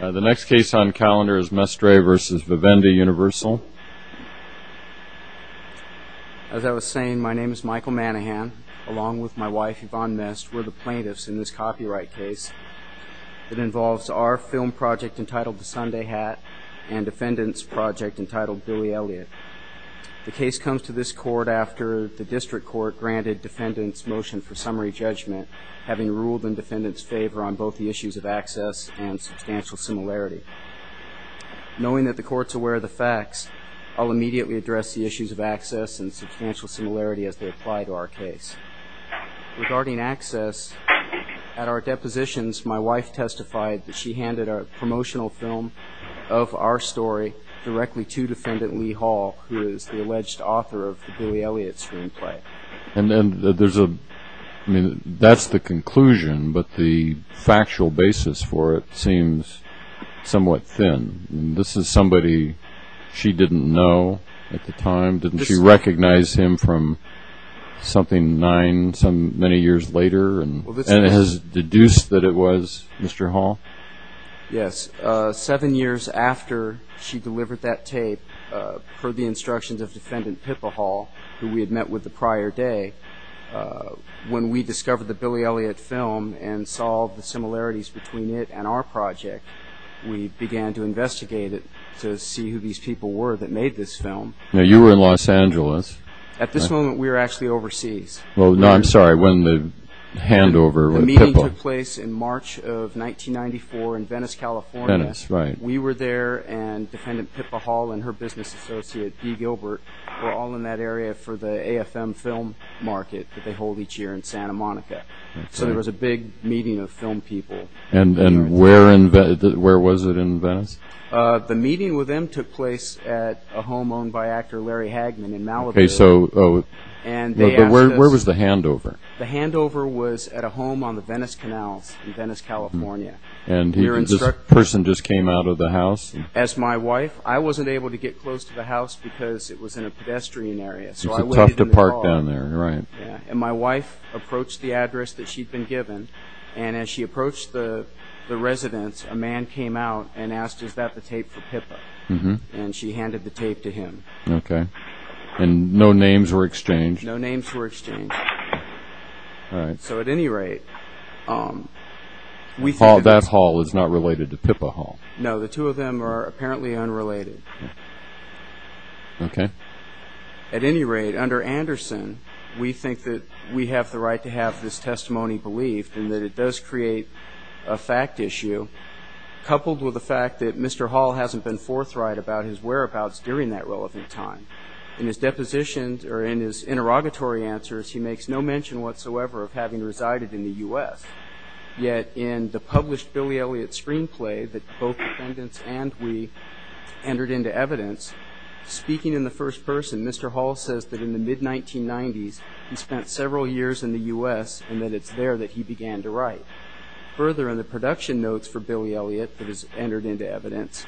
The next case on calendar is Mestre v. Vivendi Universal. As I was saying, my name is Michael Manahan. Along with my wife, Yvonne Mestre, we're the plaintiffs in this copyright case. It involves our film project entitled The Sunday Hat and defendants' project entitled Billy Elliot. The case comes to this court after the district court granted defendants' motion for summary judgment, having ruled in defendants' favor on both the issues of access and substantial similarity. Knowing that the court's aware of the facts, I'll immediately address the issues of access and substantial similarity as they apply to our case. Regarding access, at our depositions, my wife testified that she handed a promotional film of our story directly to defendant Lee Hall, who is the alleged author of the Billy Elliot screenplay. And that's the conclusion, but the factual basis for it seems somewhat thin. This is somebody she didn't know at the time? Didn't she recognize him from something nine, many years later? And has it been deduced that it was Mr. Hall? Yes. Seven years after she delivered that tape, heard the instructions of defendant Pippa Hall, who we had met with the prior day, when we discovered the Billy Elliot film and saw the similarities between it and our project, we began to investigate it to see who these people were that made this film. Now, you were in Los Angeles. At this moment, we were actually overseas. Well, no, I'm sorry, when the handover with Pippa. The meeting took place in March of 1994 in Venice, California. Venice, right. We were there, and defendant Pippa Hall and her business associate, D. Gilbert, were all in that area for the AFM film market that they hold each year in Santa Monica. So there was a big meeting of film people. And where was it in Venice? The meeting with them took place at a home owned by actor Larry Hagman in Malibu. Where was the handover? The handover was at a home on the Venice Canals in Venice, California. And this person just came out of the house? As my wife, I wasn't able to get close to the house because it was in a pedestrian area. It's tough to park down there, right. And my wife approached the address that she'd been given, and as she approached the residence, a man came out and asked, is that the tape for Pippa? And she handed the tape to him. Okay. And no names were exchanged? No names were exchanged. All right. So at any rate. That Hall is not related to Pippa Hall? No, the two of them are apparently unrelated. Okay. At any rate, under Anderson, we think that we have the right to have this testimony believed and that it does create a fact issue, coupled with the fact that Mr. Hall hasn't been forthright about his whereabouts during that relevant time. In his depositions or in his interrogatory answers, he makes no mention whatsoever of having resided in the U.S. Yet in the published Billy Elliot screenplay that both defendants and we entered into evidence, speaking in the first person, Mr. Hall says that in the mid-1990s, he spent several years in the U.S. and that it's there that he began to write. Further, in the production notes for Billy Elliot that is entered into evidence,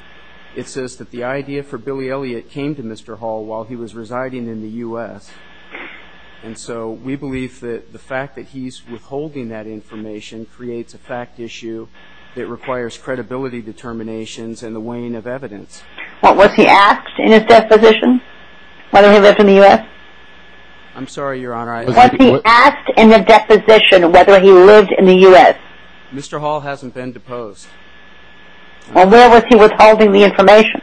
it says that the idea for Billy Elliot came to Mr. Hall while he was residing in the U.S. And so we believe that the fact that he's withholding that information creates a fact issue that requires credibility determinations and the weighing of evidence. Was he asked in his deposition whether he lived in the U.S.? I'm sorry, Your Honor. Was he asked in the deposition whether he lived in the U.S.? Mr. Hall hasn't been deposed. Well, where was he withholding the information?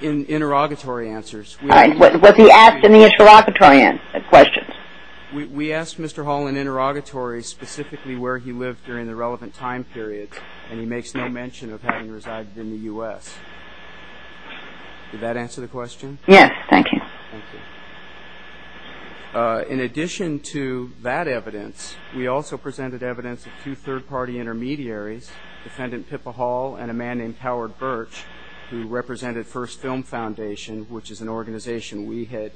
In interrogatory answers. Was he asked in the interrogatory questions? We asked Mr. Hall in interrogatory specifically where he lived during the relevant time period, and he makes no mention of having resided in the U.S. Did that answer the question? Yes, thank you. Thank you. In addition to that evidence, we also presented evidence of two third-party intermediaries, Defendant Pippa Hall and a man named Howard Birch, who represented First Film Foundation, which is an organization we had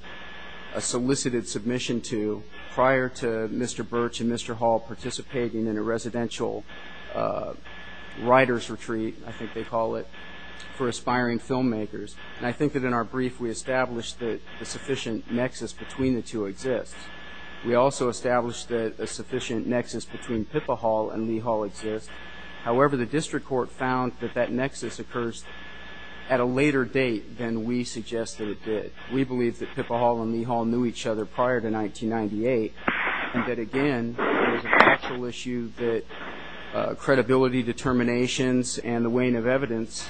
solicited submission to prior to Mr. Birch and Mr. Hall participating in a residential writer's retreat, I think they call it, for aspiring filmmakers. And I think that in our brief we established that a sufficient nexus between the two exists. We also established that a sufficient nexus between Pippa Hall and Lee Hall exists. However, the district court found that that nexus occurs at a later date than we suggest that it did. We believe that Pippa Hall and Lee Hall knew each other prior to 1998, and that, again, it was a factual issue that credibility determinations and the weighing of evidence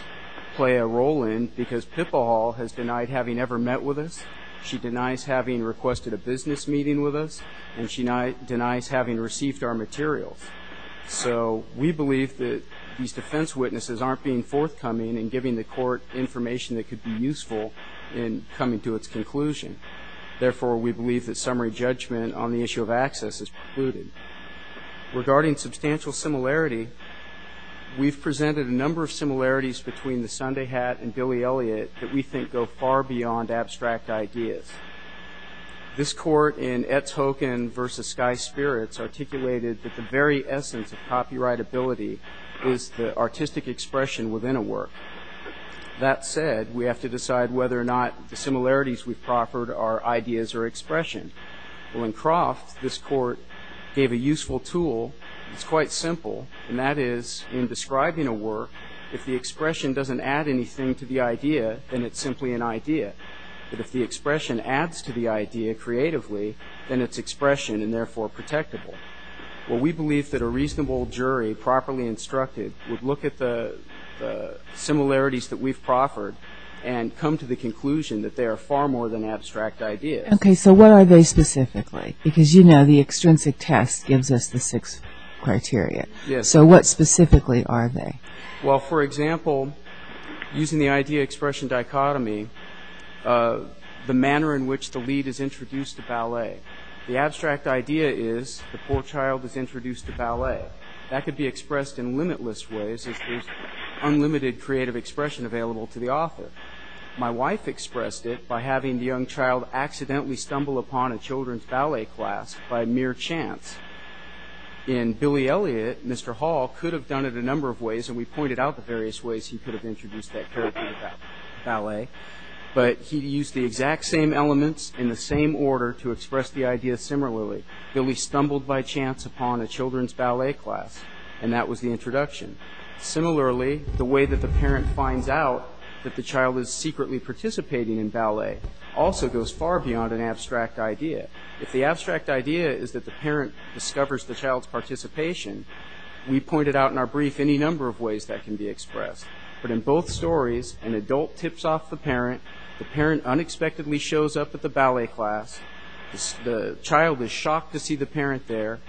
play a role in because Pippa Hall has denied having ever met with us, she denies having requested a business meeting with us, and she denies having received our materials. So we believe that these defense witnesses aren't being forthcoming and giving the court information that could be useful in coming to its conclusion. Therefore, we believe that summary judgment on the issue of access is precluded. Regarding substantial similarity, we've presented a number of similarities between the Sunday hat and Billy Elliot that we think go far beyond abstract ideas. This court in Etz Hocken v. Sky Spirits articulated that the very essence of copyrightability is the artistic expression within a work. That said, we have to decide whether or not the similarities we've proffered are ideas or expression. Well, in Croft, this court gave a useful tool that's quite simple, and that is in describing a work, if the expression doesn't add anything to the idea, then it's simply an idea. But if the expression adds to the idea creatively, then it's expression and therefore protectable. Well, we believe that a reasonable jury, properly instructed, would look at the similarities that we've proffered and come to the conclusion that they are far more than abstract ideas. Okay, so what are they specifically? Because you know the extrinsic test gives us the six criteria. So what specifically are they? Well, for example, using the idea-expression dichotomy, the manner in which the lead is introduced to ballet. The abstract idea is the poor child is introduced to ballet. That could be expressed in limitless ways. There's unlimited creative expression available to the author. My wife expressed it by having the young child accidentally stumble upon a children's ballet class by mere chance. In Billy Elliot, Mr. Hall could have done it a number of ways, and we pointed out the various ways he could have introduced that character to ballet. But he used the exact same elements in the same order to express the idea similarly. Billy stumbled by chance upon a children's ballet class, and that was the introduction. Similarly, the way that the parent finds out that the child is secretly participating in ballet also goes far beyond an abstract idea. If the abstract idea is that the parent discovers the child's participation, we pointed out in our brief any number of ways that can be expressed. But in both stories, an adult tips off the parent. The parent unexpectedly shows up at the ballet class. The child is shocked to see the parent there.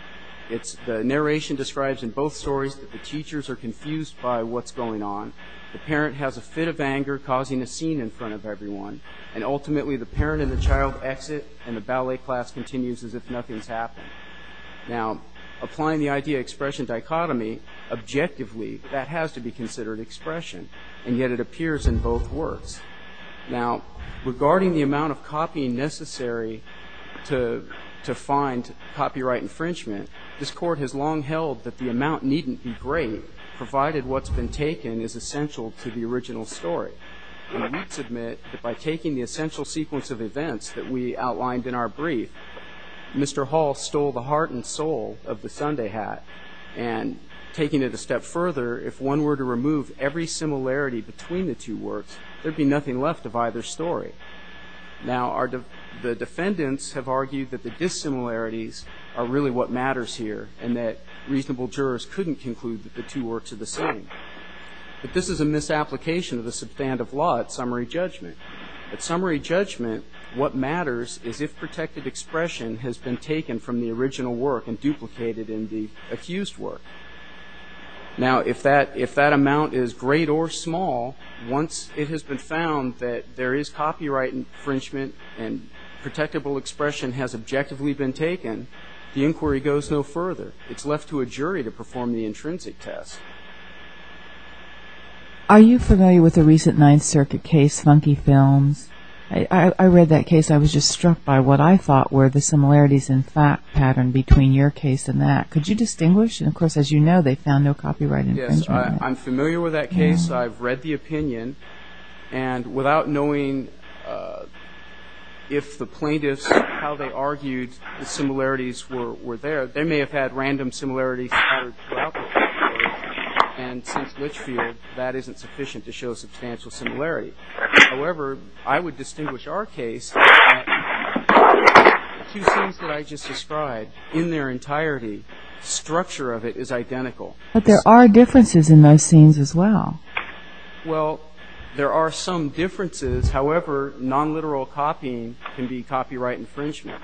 The narration describes in both stories that the teachers are confused by what's going on. The parent has a fit of anger, causing a scene in front of everyone. And ultimately, the parent and the child exit, and the ballet class continues as if nothing's happened. Now, applying the idea-expression dichotomy, objectively, that has to be considered expression, and yet it appears in both works. Now, regarding the amount of copying necessary to find copyright infringement, this court has long held that the amount needn't be great, provided what's been taken is essential to the original story. And we submit that by taking the essential sequence of events that we outlined in our brief, Mr. Hall stole the heart and soul of the Sunday hat. And taking it a step further, if one were to remove every similarity between the two works, there'd be nothing left of either story. Now, the defendants have argued that the dissimilarities are really what matters here, and that reasonable jurors couldn't conclude that the two works are the same. But this is a misapplication of the substand of law at summary judgment. At summary judgment, what matters is if protected expression has been taken from the original work and duplicated in the accused work. Now, if that amount is great or small, once it has been found that there is copyright infringement and protectable expression has objectively been taken, the inquiry goes no further. It's left to a jury to perform the intrinsic test. Are you familiar with the recent Ninth Circuit case, Funky Films? I read that case. I was just struck by what I thought were the similarities in fact pattern between your case and that. Could you distinguish? And, of course, as you know, they found no copyright infringement in that. Yes, I'm familiar with that case. I've read the opinion. And without knowing if the plaintiffs, how they argued the similarities were there, they may have had random similarities in pattern throughout the case. And since Litchfield, that isn't sufficient to show substantial similarity. However, I would distinguish our case. Two scenes that I just described, in their entirety, structure of it is identical. But there are differences in those scenes as well. Well, there are some differences. However, nonliteral copying can be copyright infringement.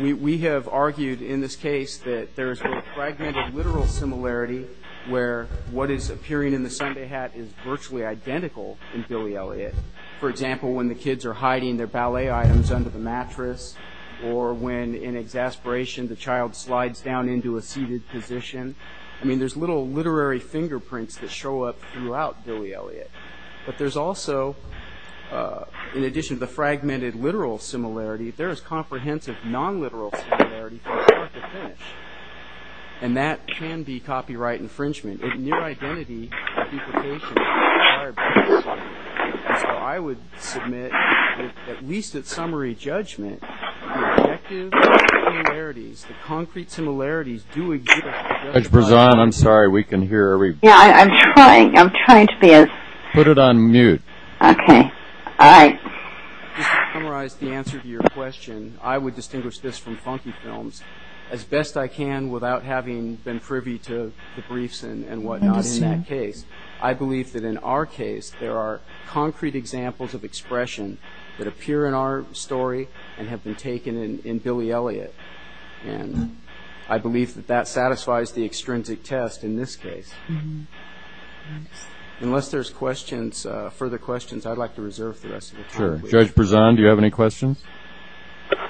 We have argued in this case that there is a fragmented literal similarity where what is appearing in the Sunday hat is virtually identical in Billy Elliot. For example, when the kids are hiding their ballet items under the mattress or when, in exasperation, the child slides down into a seated position. I mean, there's little literary fingerprints that show up throughout Billy Elliot. But there's also, in addition to the fragmented literal similarity, and that can be copyright infringement. It's near-identity duplication. And so I would submit that, at least at summary judgment, the objective similarities, the concrete similarities, do exist. Judge Berzon, I'm sorry. We can hear everybody. Yeah, I'm trying. I'm trying to be as... Put it on mute. Okay. All right. Just to summarize the answer to your question, I would distinguish this from funky films. As best I can, without having been privy to the briefs and whatnot in that case, I believe that in our case there are concrete examples of expression that appear in our story and have been taken in Billy Elliot. And I believe that that satisfies the extrinsic test in this case. Unless there's questions, further questions, I'd like to reserve the rest of the time. Sure. Judge Berzon, do you have any questions?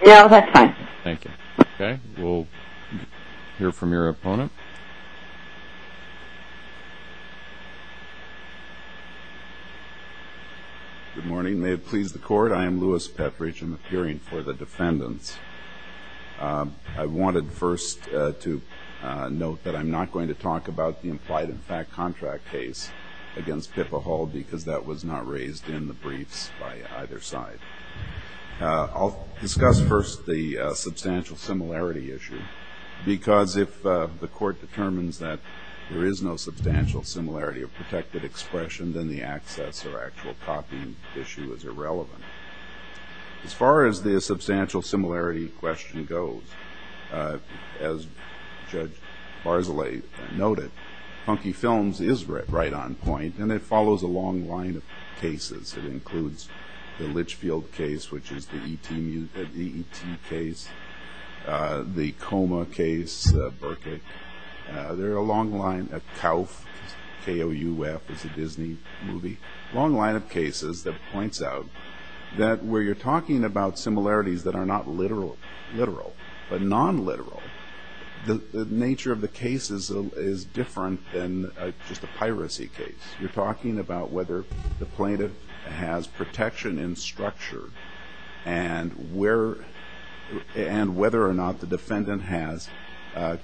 No, that's fine. Thank you. Okay. We'll hear from your opponent. Good morning. May it please the Court. I am Louis Petrich. I'm appearing for the defendants. I wanted first to note that I'm not going to talk about the implied-in-fact contract case against Pippa Hall because that was not raised in the briefs by either side. I'll discuss first the substantial similarity issue because if the Court determines that there is no substantial similarity of protected expression, then the access or actual copying issue is irrelevant. As far as the substantial similarity question goes, as Judge Barzilay noted, funky films is right on point, and it follows a long line of cases. It includes the Litchfield case, which is the E.T. case, the Coma case, Berkik. There are a long line of KOUF, K-O-U-F, is a Disney movie, a long line of cases that points out that where you're talking about similarities that are not literal, but non-literal, the nature of the case is different than just a piracy case. You're talking about whether the plaintiff has protection in structure and whether or not the defendant has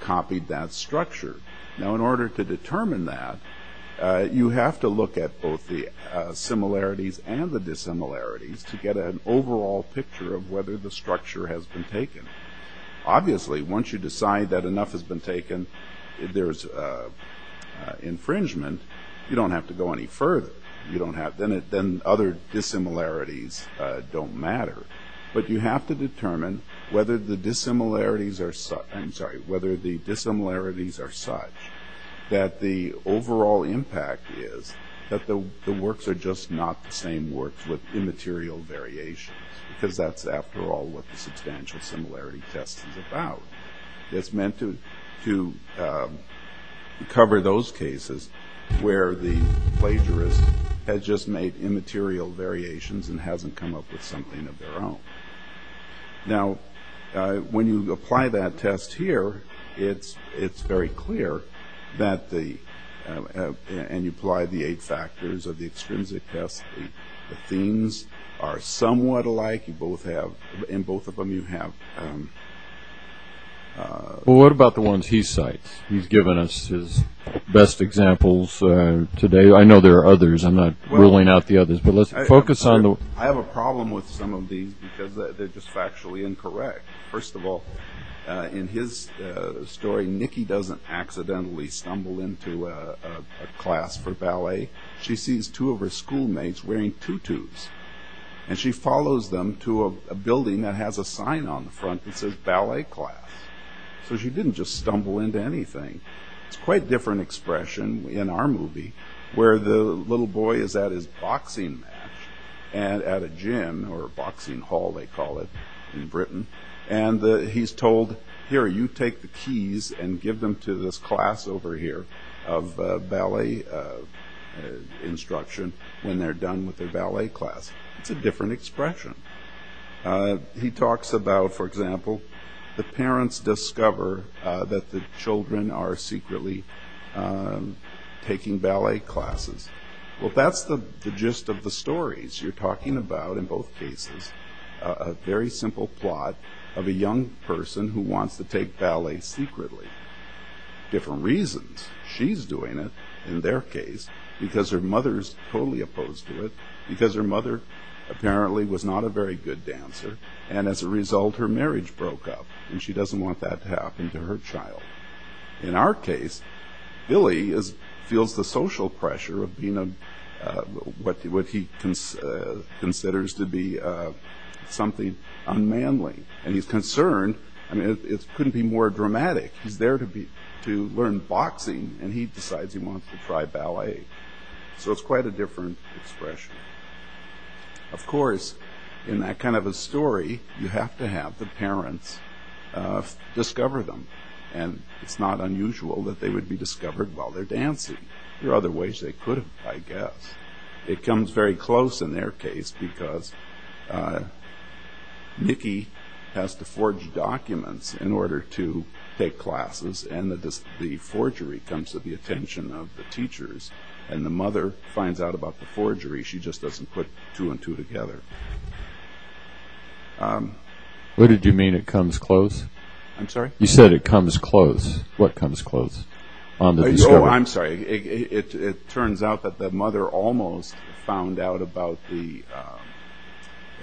copied that structure. In order to determine that, you have to look at both the similarities and the dissimilarities to get an overall picture of whether the structure has been taken. Obviously, once you decide that enough has been taken, there's infringement. You don't have to go any further. Then other dissimilarities don't matter. But you have to determine whether the dissimilarities are such that the overall impact is that the works are just not the same works with immaterial variations, because that's, after all, what the substantial similarity test is about. It's meant to cover those cases where the plagiarist has just made immaterial variations and hasn't come up with something of their own. Now, when you apply that test here, it's very clear that the and you apply the eight factors of the extrinsic test, the themes are somewhat alike. In both of them, you have... Well, what about the ones he cites? He's given us his best examples today. I know there are others. I'm not ruling out the others, but let's focus on the... I have a problem with some of these because they're just factually incorrect. First of all, in his story, Nicky doesn't accidentally stumble into a class for ballet. She sees two of her schoolmates wearing tutus, and she follows them to a building that has a sign on the front that says ballet class. So she didn't just stumble into anything. It's quite a different expression in our movie, where the little boy is at his boxing match at a gym, or a boxing hall, they call it in Britain, and he's told, here, you take the keys and give them to this class over here of ballet instruction when they're done with their ballet class. It's a different expression. He talks about, for example, the parents discover that the children are secretly taking ballet classes. Well, that's the gist of the stories. You're talking about, in both cases, a very simple plot of a young person who wants to take ballet secretly. Different reasons. She's doing it, in their case, because her mother is totally opposed to it, because her mother apparently was not a very good dancer, and as a result her marriage broke up, and she doesn't want that to happen to her child. In our case, Billy feels the social pressure of being what he considers to be something unmanly, and he's concerned. It couldn't be more dramatic. He's there to learn boxing, and he decides he wants to try ballet. So it's quite a different expression. Of course, in that kind of a story, you have to have the parents discover them, and it's not unusual that they would be discovered while they're dancing. There are other ways they could have, I guess. It comes very close in their case, because Nikki has to forge documents in order to take classes, and the forgery comes to the attention of the teachers, and the mother finds out about the forgery. She just doesn't put two and two together. What did you mean, it comes close? I'm sorry? You said it comes close. What comes close? Oh, I'm sorry. It turns out that the mother almost found out about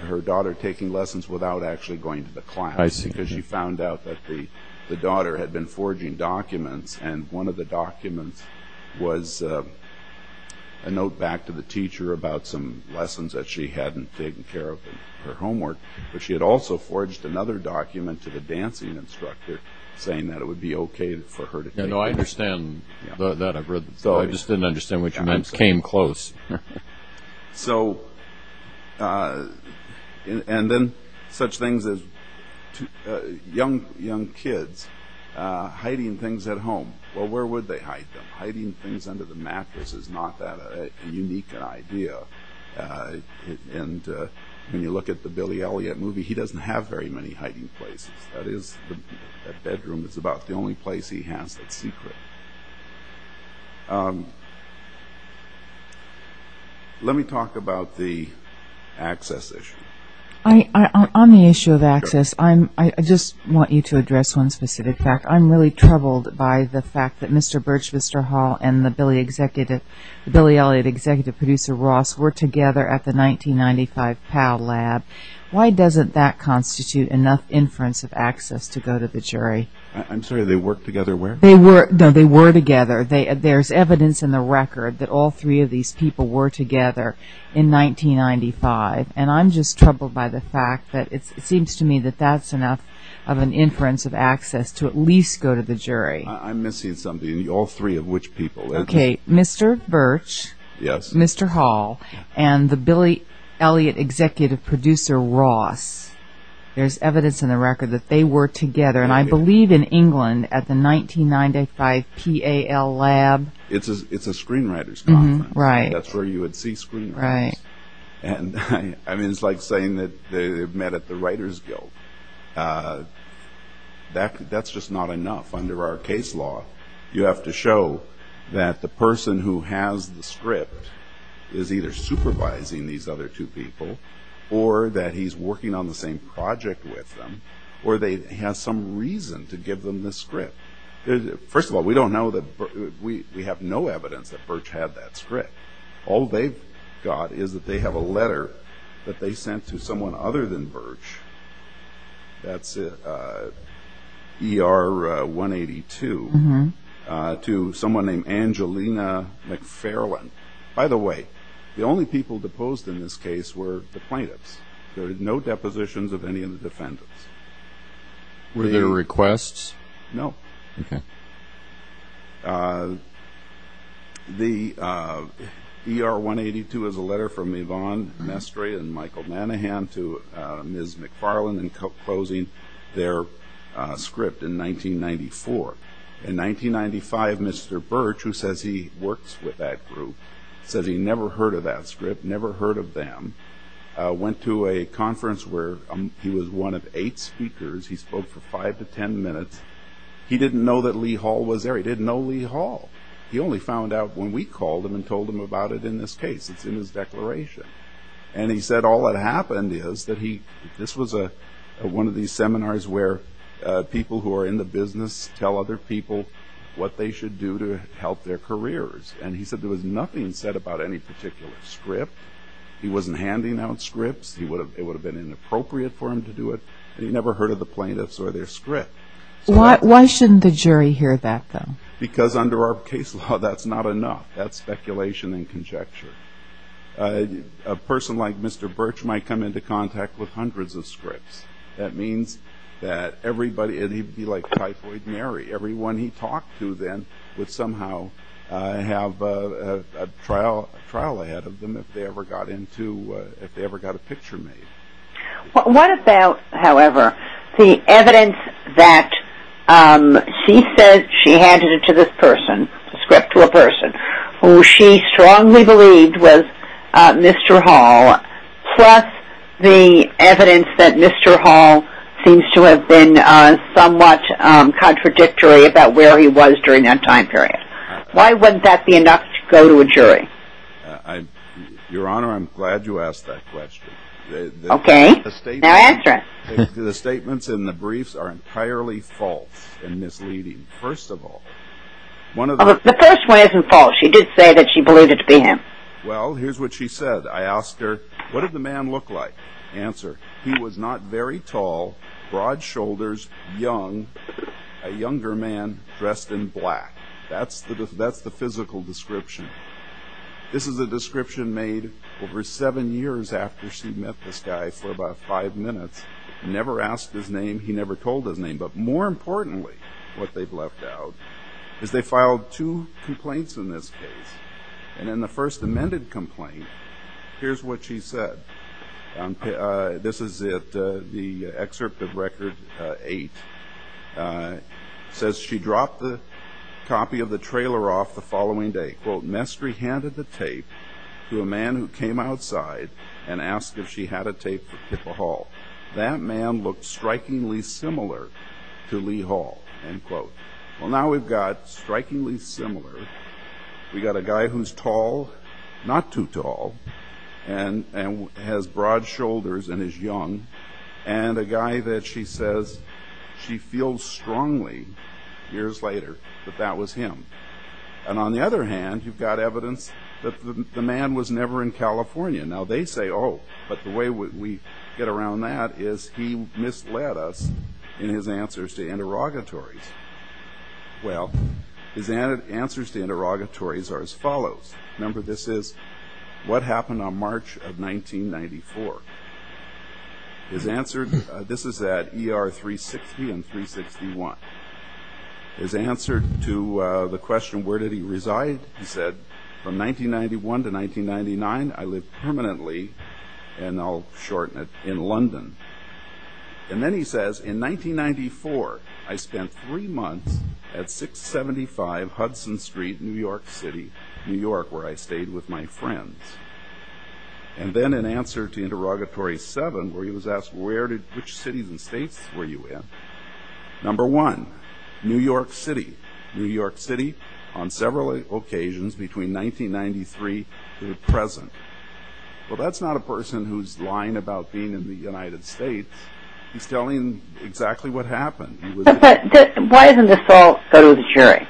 her daughter taking lessons without actually going to the class, because she found out that the daughter had been forging documents, and one of the documents was a note back to the teacher about some lessons that she hadn't taken care of in her homework, but she had also forged another document to the dancing instructor saying that it would be okay for her to take lessons. Yeah, no, I understand that. I just didn't understand which meant came close. So, and then such things as young kids hiding things at home. Well, where would they hide them? Hiding things under the mattress is not that unique an idea, and when you look at the Billy Elliot movie, he doesn't have very many hiding places. That bedroom is about the only place he has that's secret. Let me talk about the access issue. On the issue of access, I just want you to address one specific fact. I'm really troubled by the fact that Mr. Birch, Mr. Hall, and the Billy Elliot executive producer, Ross, were together at the 1995 PAL lab. Why doesn't that constitute enough inference of access to go to the jury? I'm sorry, they worked together where? They were together. There's evidence in the record that all three of these people were together in 1995, and I'm just troubled by the fact that it seems to me that that's enough of an inference of access to at least go to the jury. I'm missing something. All three of which people? Okay, Mr. Birch, Mr. Hall, and the Billy Elliot executive producer, Ross. There's evidence in the record that they were together, and I believe in England at the 1995 PAL lab. It's a screenwriters' conference. That's where you would see screenwriters. I mean, it's like saying that they met at the writers' guild. That's just not enough under our case law. You have to show that the person who has the script is either supervising these other two people or that he's working on the same project with them, or they have some reason to give them this script. First of all, we have no evidence that Birch had that script. All they've got is that they have a letter that they sent to someone other than Birch. That's ER-182 to someone named Angelina McFarland. By the way, the only people deposed in this case were the plaintiffs. There are no depositions of any of the defendants. Were there requests? No. The ER-182 is a letter from Yvonne Mestre and Michael Manahan to Ms. McFarland enclosing their script in 1994. In 1995, Mr. Birch, who says he works with that group, says he never heard of that script, never heard of them, went to a conference where he was one of eight speakers. He spoke for five to ten minutes. He didn't know that Lee Hall was there. He didn't know Lee Hall. He only found out when we called him and told him about it in this case. It's in his declaration. And he said all that happened is that this was one of these seminars where people who are in the business tell other people what they should do to help their careers. And he said there was nothing said about any particular script. He wasn't handing out scripts. It would have been inappropriate for him to do it. And he never heard of the plaintiffs or their script. Why shouldn't the jury hear that, though? Because under our case law, that's not enough. That's speculation and conjecture. A person like Mr. Birch might come into contact with hundreds of scripts. That means that everybody, like Typhoid Mary, everyone he talked to then would somehow have a trial ahead of them if they ever got a picture made. What about, however, the evidence that she said she handed to this person, the script to a person who she strongly believed was Mr. Hall, plus the evidence that Mr. Hall seems to have been somewhat contradictory about where he was during that time period? Why wouldn't that be enough to go to a jury? Your Honor, I'm glad you asked that question. Okay. Now answer it. The statements in the briefs are entirely false and misleading. First of all, one of the... The first one isn't false. She did say that she believed it to be him. Well, here's what she said. I asked her, what did the man look like? Answer, he was not very tall, broad shoulders, young, a younger man dressed in black. That's the physical description. This is a description made over seven years after she met this guy for about five minutes. Never asked his name. He never told his name. But more importantly, what they've left out, is they filed two complaints in this case. And in the first amended complaint, here's what she said. This is the excerpt of Record 8. It says she dropped the copy of the trailer off the following day. Quote, Mestre handed the tape to a man who came outside and asked if she had a tape for Kippa Hall. That man looked strikingly similar to Lee Hall. End quote. Well, now we've got strikingly similar. We've got a guy who's tall, not too tall, and has broad shoulders and is young, and a guy that she says she feels strongly, years later, that that was him. And on the other hand, you've got evidence that the man was never in California. Now they say, oh, but the way we get around that is he misled us in his answers to interrogatories. Well, his answers to interrogatories are as follows. Remember, this is what happened on March of 1994. His answer, this is at ER 360 and 361. His answer to the question, where did he reside, he said, from 1991 to 1999, I lived permanently, and I'll shorten it, in London. And then he says, in 1994, I spent three months at 675 Hudson Street, New York City, New York, where I stayed with my friends. And then in answer to interrogatory seven, where he was asked, which cities and states were you in, number one, New York City, New York City, on several occasions between 1993 to the present. Well, that's not a person who's lying about being in the United States. He's telling exactly what happened. But why doesn't this all go to the jury,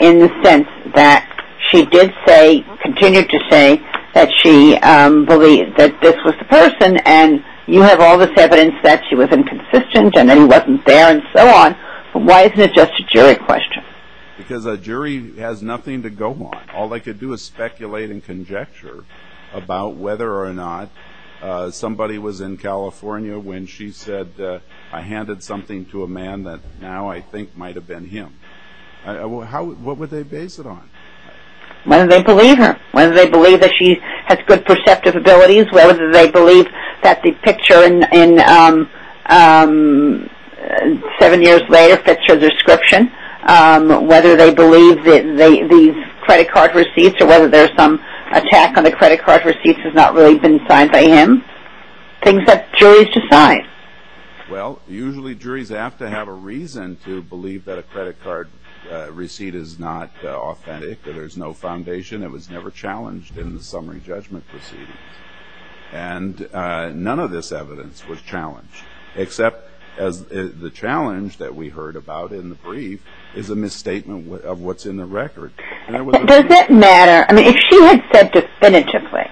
in the sense that she did say, continued to say, that she believed that this was the person, and you have all this evidence that she was inconsistent and that he wasn't there and so on. Why isn't it just a jury question? Because a jury has nothing to go on. All they could do is speculate and conjecture about whether or not somebody was in California when she said, I handed something to a man that now I think might have been him. What would they base it on? Whether they believe her, whether they believe that she has good perceptive abilities, whether they believe that the picture in Seven Years Later fits her description, whether they believe these credit card receipts, or whether there's some attack on the credit card receipts has not really been signed by him. Things that juries decide. Well, usually juries have to have a reason to believe that a credit card receipt is not authentic, that there's no foundation, it was never challenged in the summary judgment proceedings. And none of this evidence was challenged, except the challenge that we heard about in the brief is a misstatement of what's in the record. Does that matter? I mean, if she had said definitively,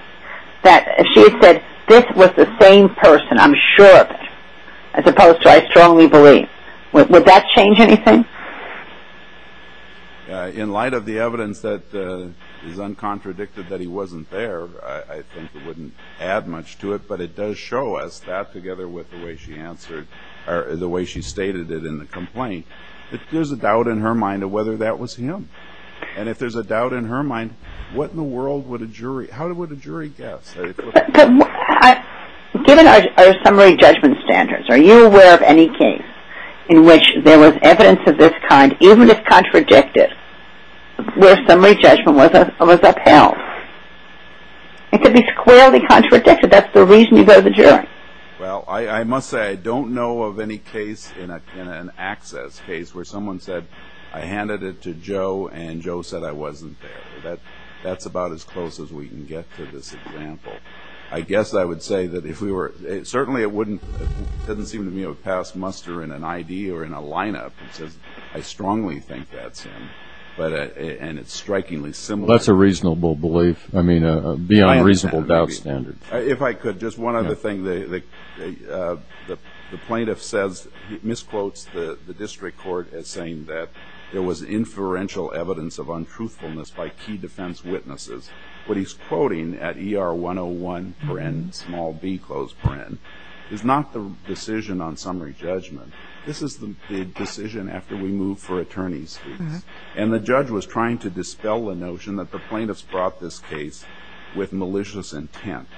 if she had said, this was the same person, I'm sure of it, as opposed to, I strongly believe, would that change anything? In light of the evidence that is uncontradicted that he wasn't there, I think it wouldn't add much to it, but it does show us that, together with the way she answered, or the way she stated it in the complaint, that there's a doubt in her mind of whether that was him. And if there's a doubt in her mind, what in the world would a jury, how would a jury guess? Given our summary judgment standards, are you aware of any case in which there was evidence of this kind, even if contradicted, where summary judgment was upheld? It could be squarely contradicted. That's the reason you go to the jury. Well, I must say, I don't know of any case in an access case where someone said, I handed it to Joe, and Joe said I wasn't there. That's about as close as we can get to this example. I guess I would say that if we were, certainly it wouldn't, it doesn't seem to me, it would pass muster in an ID or in a lineup. It says, I strongly think that's him, and it's strikingly similar. That's a reasonable belief. I mean, a beyond reasonable doubt standard. If I could, just one other thing. The plaintiff says, he misquotes the district court as saying that there was inferential evidence of untruthfulness by key defense witnesses. What he's quoting at ER 101, small b, close paren, is not the decision on summary judgment. This is the decision after we move for attorney's fees. And the judge was trying to dispel the notion that the plaintiff's brought this case with malicious intent.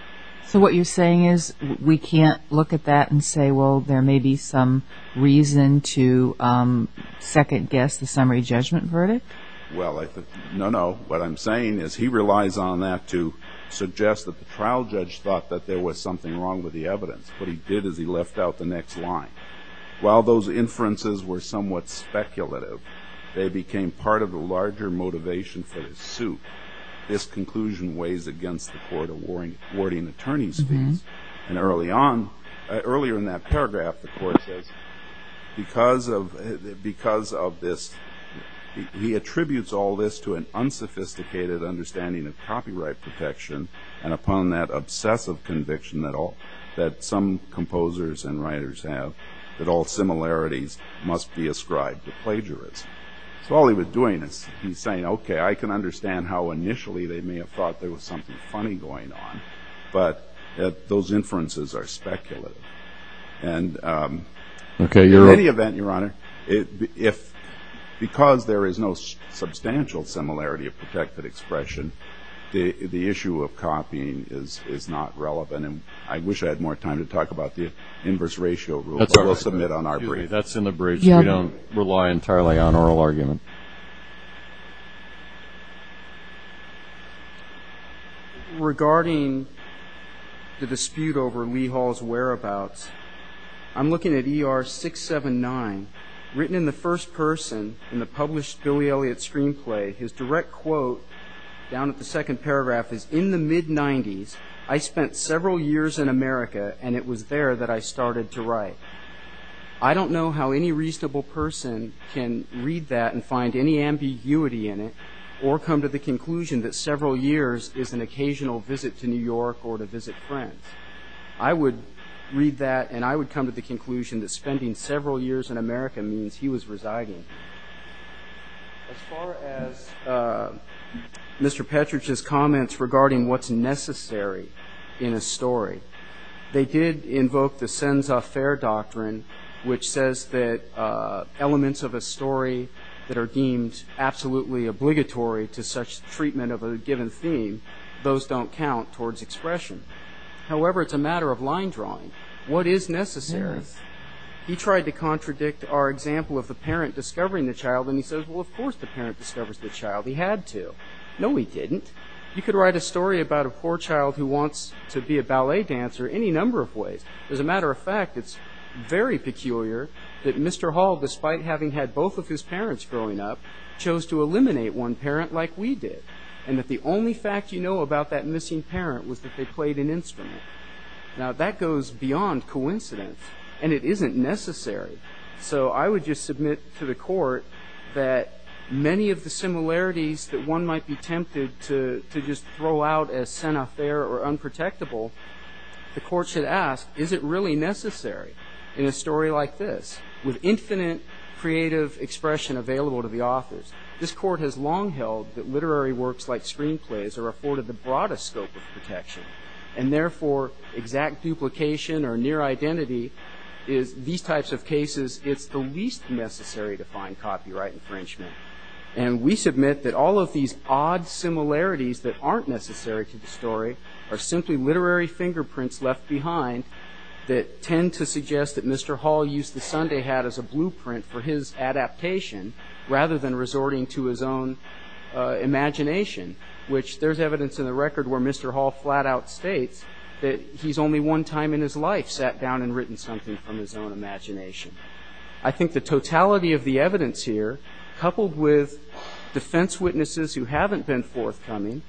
So what you're saying is we can't look at that and say, well, there may be some reason to second guess the summary judgment verdict? Well, no, no. What I'm saying is he relies on that to suggest that the trial judge thought that there was something wrong with the evidence. What he did is he left out the next line. While those inferences were somewhat speculative, they became part of the larger motivation for the suit. This conclusion weighs against the court awarding attorney's fees. And earlier in that paragraph, the court says, because of this, he attributes all this to an unsophisticated understanding of copyright protection and upon that obsessive conviction that some composers and writers have that all similarities must be ascribed to plagiarism. So all he was doing is he's saying, OK, I can understand how initially they may have thought there was something funny going on. But those inferences are speculative. And in any event, Your Honor, because there is no substantial similarity of protected expression, the issue of copying is not relevant. And I wish I had more time to talk about the inverse ratio rule, but we'll submit on our brief. That's in the brief. We don't rely entirely on oral argument. Regarding the dispute over Lee Hall's whereabouts, I'm looking at ER 679, written in the first person in the published Billy Elliot screenplay. His direct quote down at the second paragraph is, In the mid-90s, I spent several years in America, and it was there that I started to write. I don't know how any reasonable person can read that and find any ambiguity in it or come to the conclusion that several years is an occasional visit to New York or to visit friends. I would read that, and I would come to the conclusion that spending several years in America means he was residing. As far as Mr. Petrich's comments regarding what's necessary in a story, they did invoke the sense of fair doctrine, which says that elements of a story that are deemed absolutely obligatory to such treatment of a given theme, those don't count towards expression. However, it's a matter of line drawing. What is necessary? He tried to contradict our example of the parent discovering the child, and he says, well, of course the parent discovers the child. He had to. No, he didn't. You could write a story about a poor child who wants to be a ballet dancer any number of ways. As a matter of fact, it's very peculiar that Mr. Hall, despite having had both of his parents growing up, chose to eliminate one parent like we did and that the only fact you know about that missing parent was that they played an instrument. Now, that goes beyond coincidence, and it isn't necessary. So I would just submit to the court that many of the similarities that one might be tempted to just throw out as sanitaire or unprotectable, the court should ask, is it really necessary in a story like this, with infinite creative expression available to the authors? This court has long held that literary works like screenplays are afforded the broadest scope of protection, and therefore exact duplication or near identity is these types of cases, it's the least necessary to find copyright infringement. And we submit that all of these odd similarities that aren't necessary to the story are simply literary fingerprints left behind that tend to suggest that Mr. Hall used the Sunday hat as a blueprint for his adaptation rather than resorting to his own imagination, which there's evidence in the record where Mr. Hall flat-out states that he's only one time in his life sat down and written something from his own imagination. I think the totality of the evidence here, coupled with defense witnesses who haven't been forthcoming,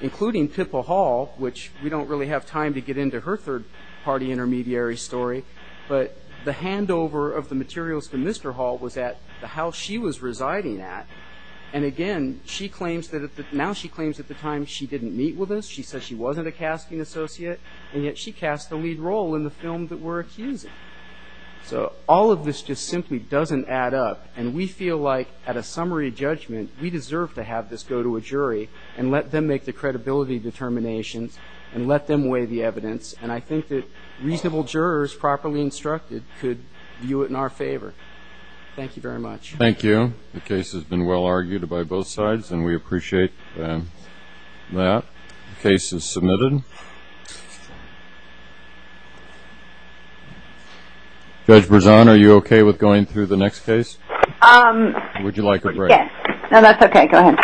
including Pippa Hall, which we don't really have time to get into her third-party intermediary story, but the handover of the materials to Mr. Hall was at the house she was residing at, and again, now she claims that at the time she didn't meet with us, she said she wasn't a casting associate, and yet she cast the lead role in the film that we're accusing. So all of this just simply doesn't add up, and we feel like, at a summary judgment, we deserve to have this go to a jury and let them make the credibility determinations and let them weigh the evidence, and I think that reasonable jurors, properly instructed, could view it in our favor. Thank you very much. Thank you. The case has been well-argued by both sides, and we appreciate that. The case is submitted. Would you like a break? Yes. No, that's okay. Go ahead.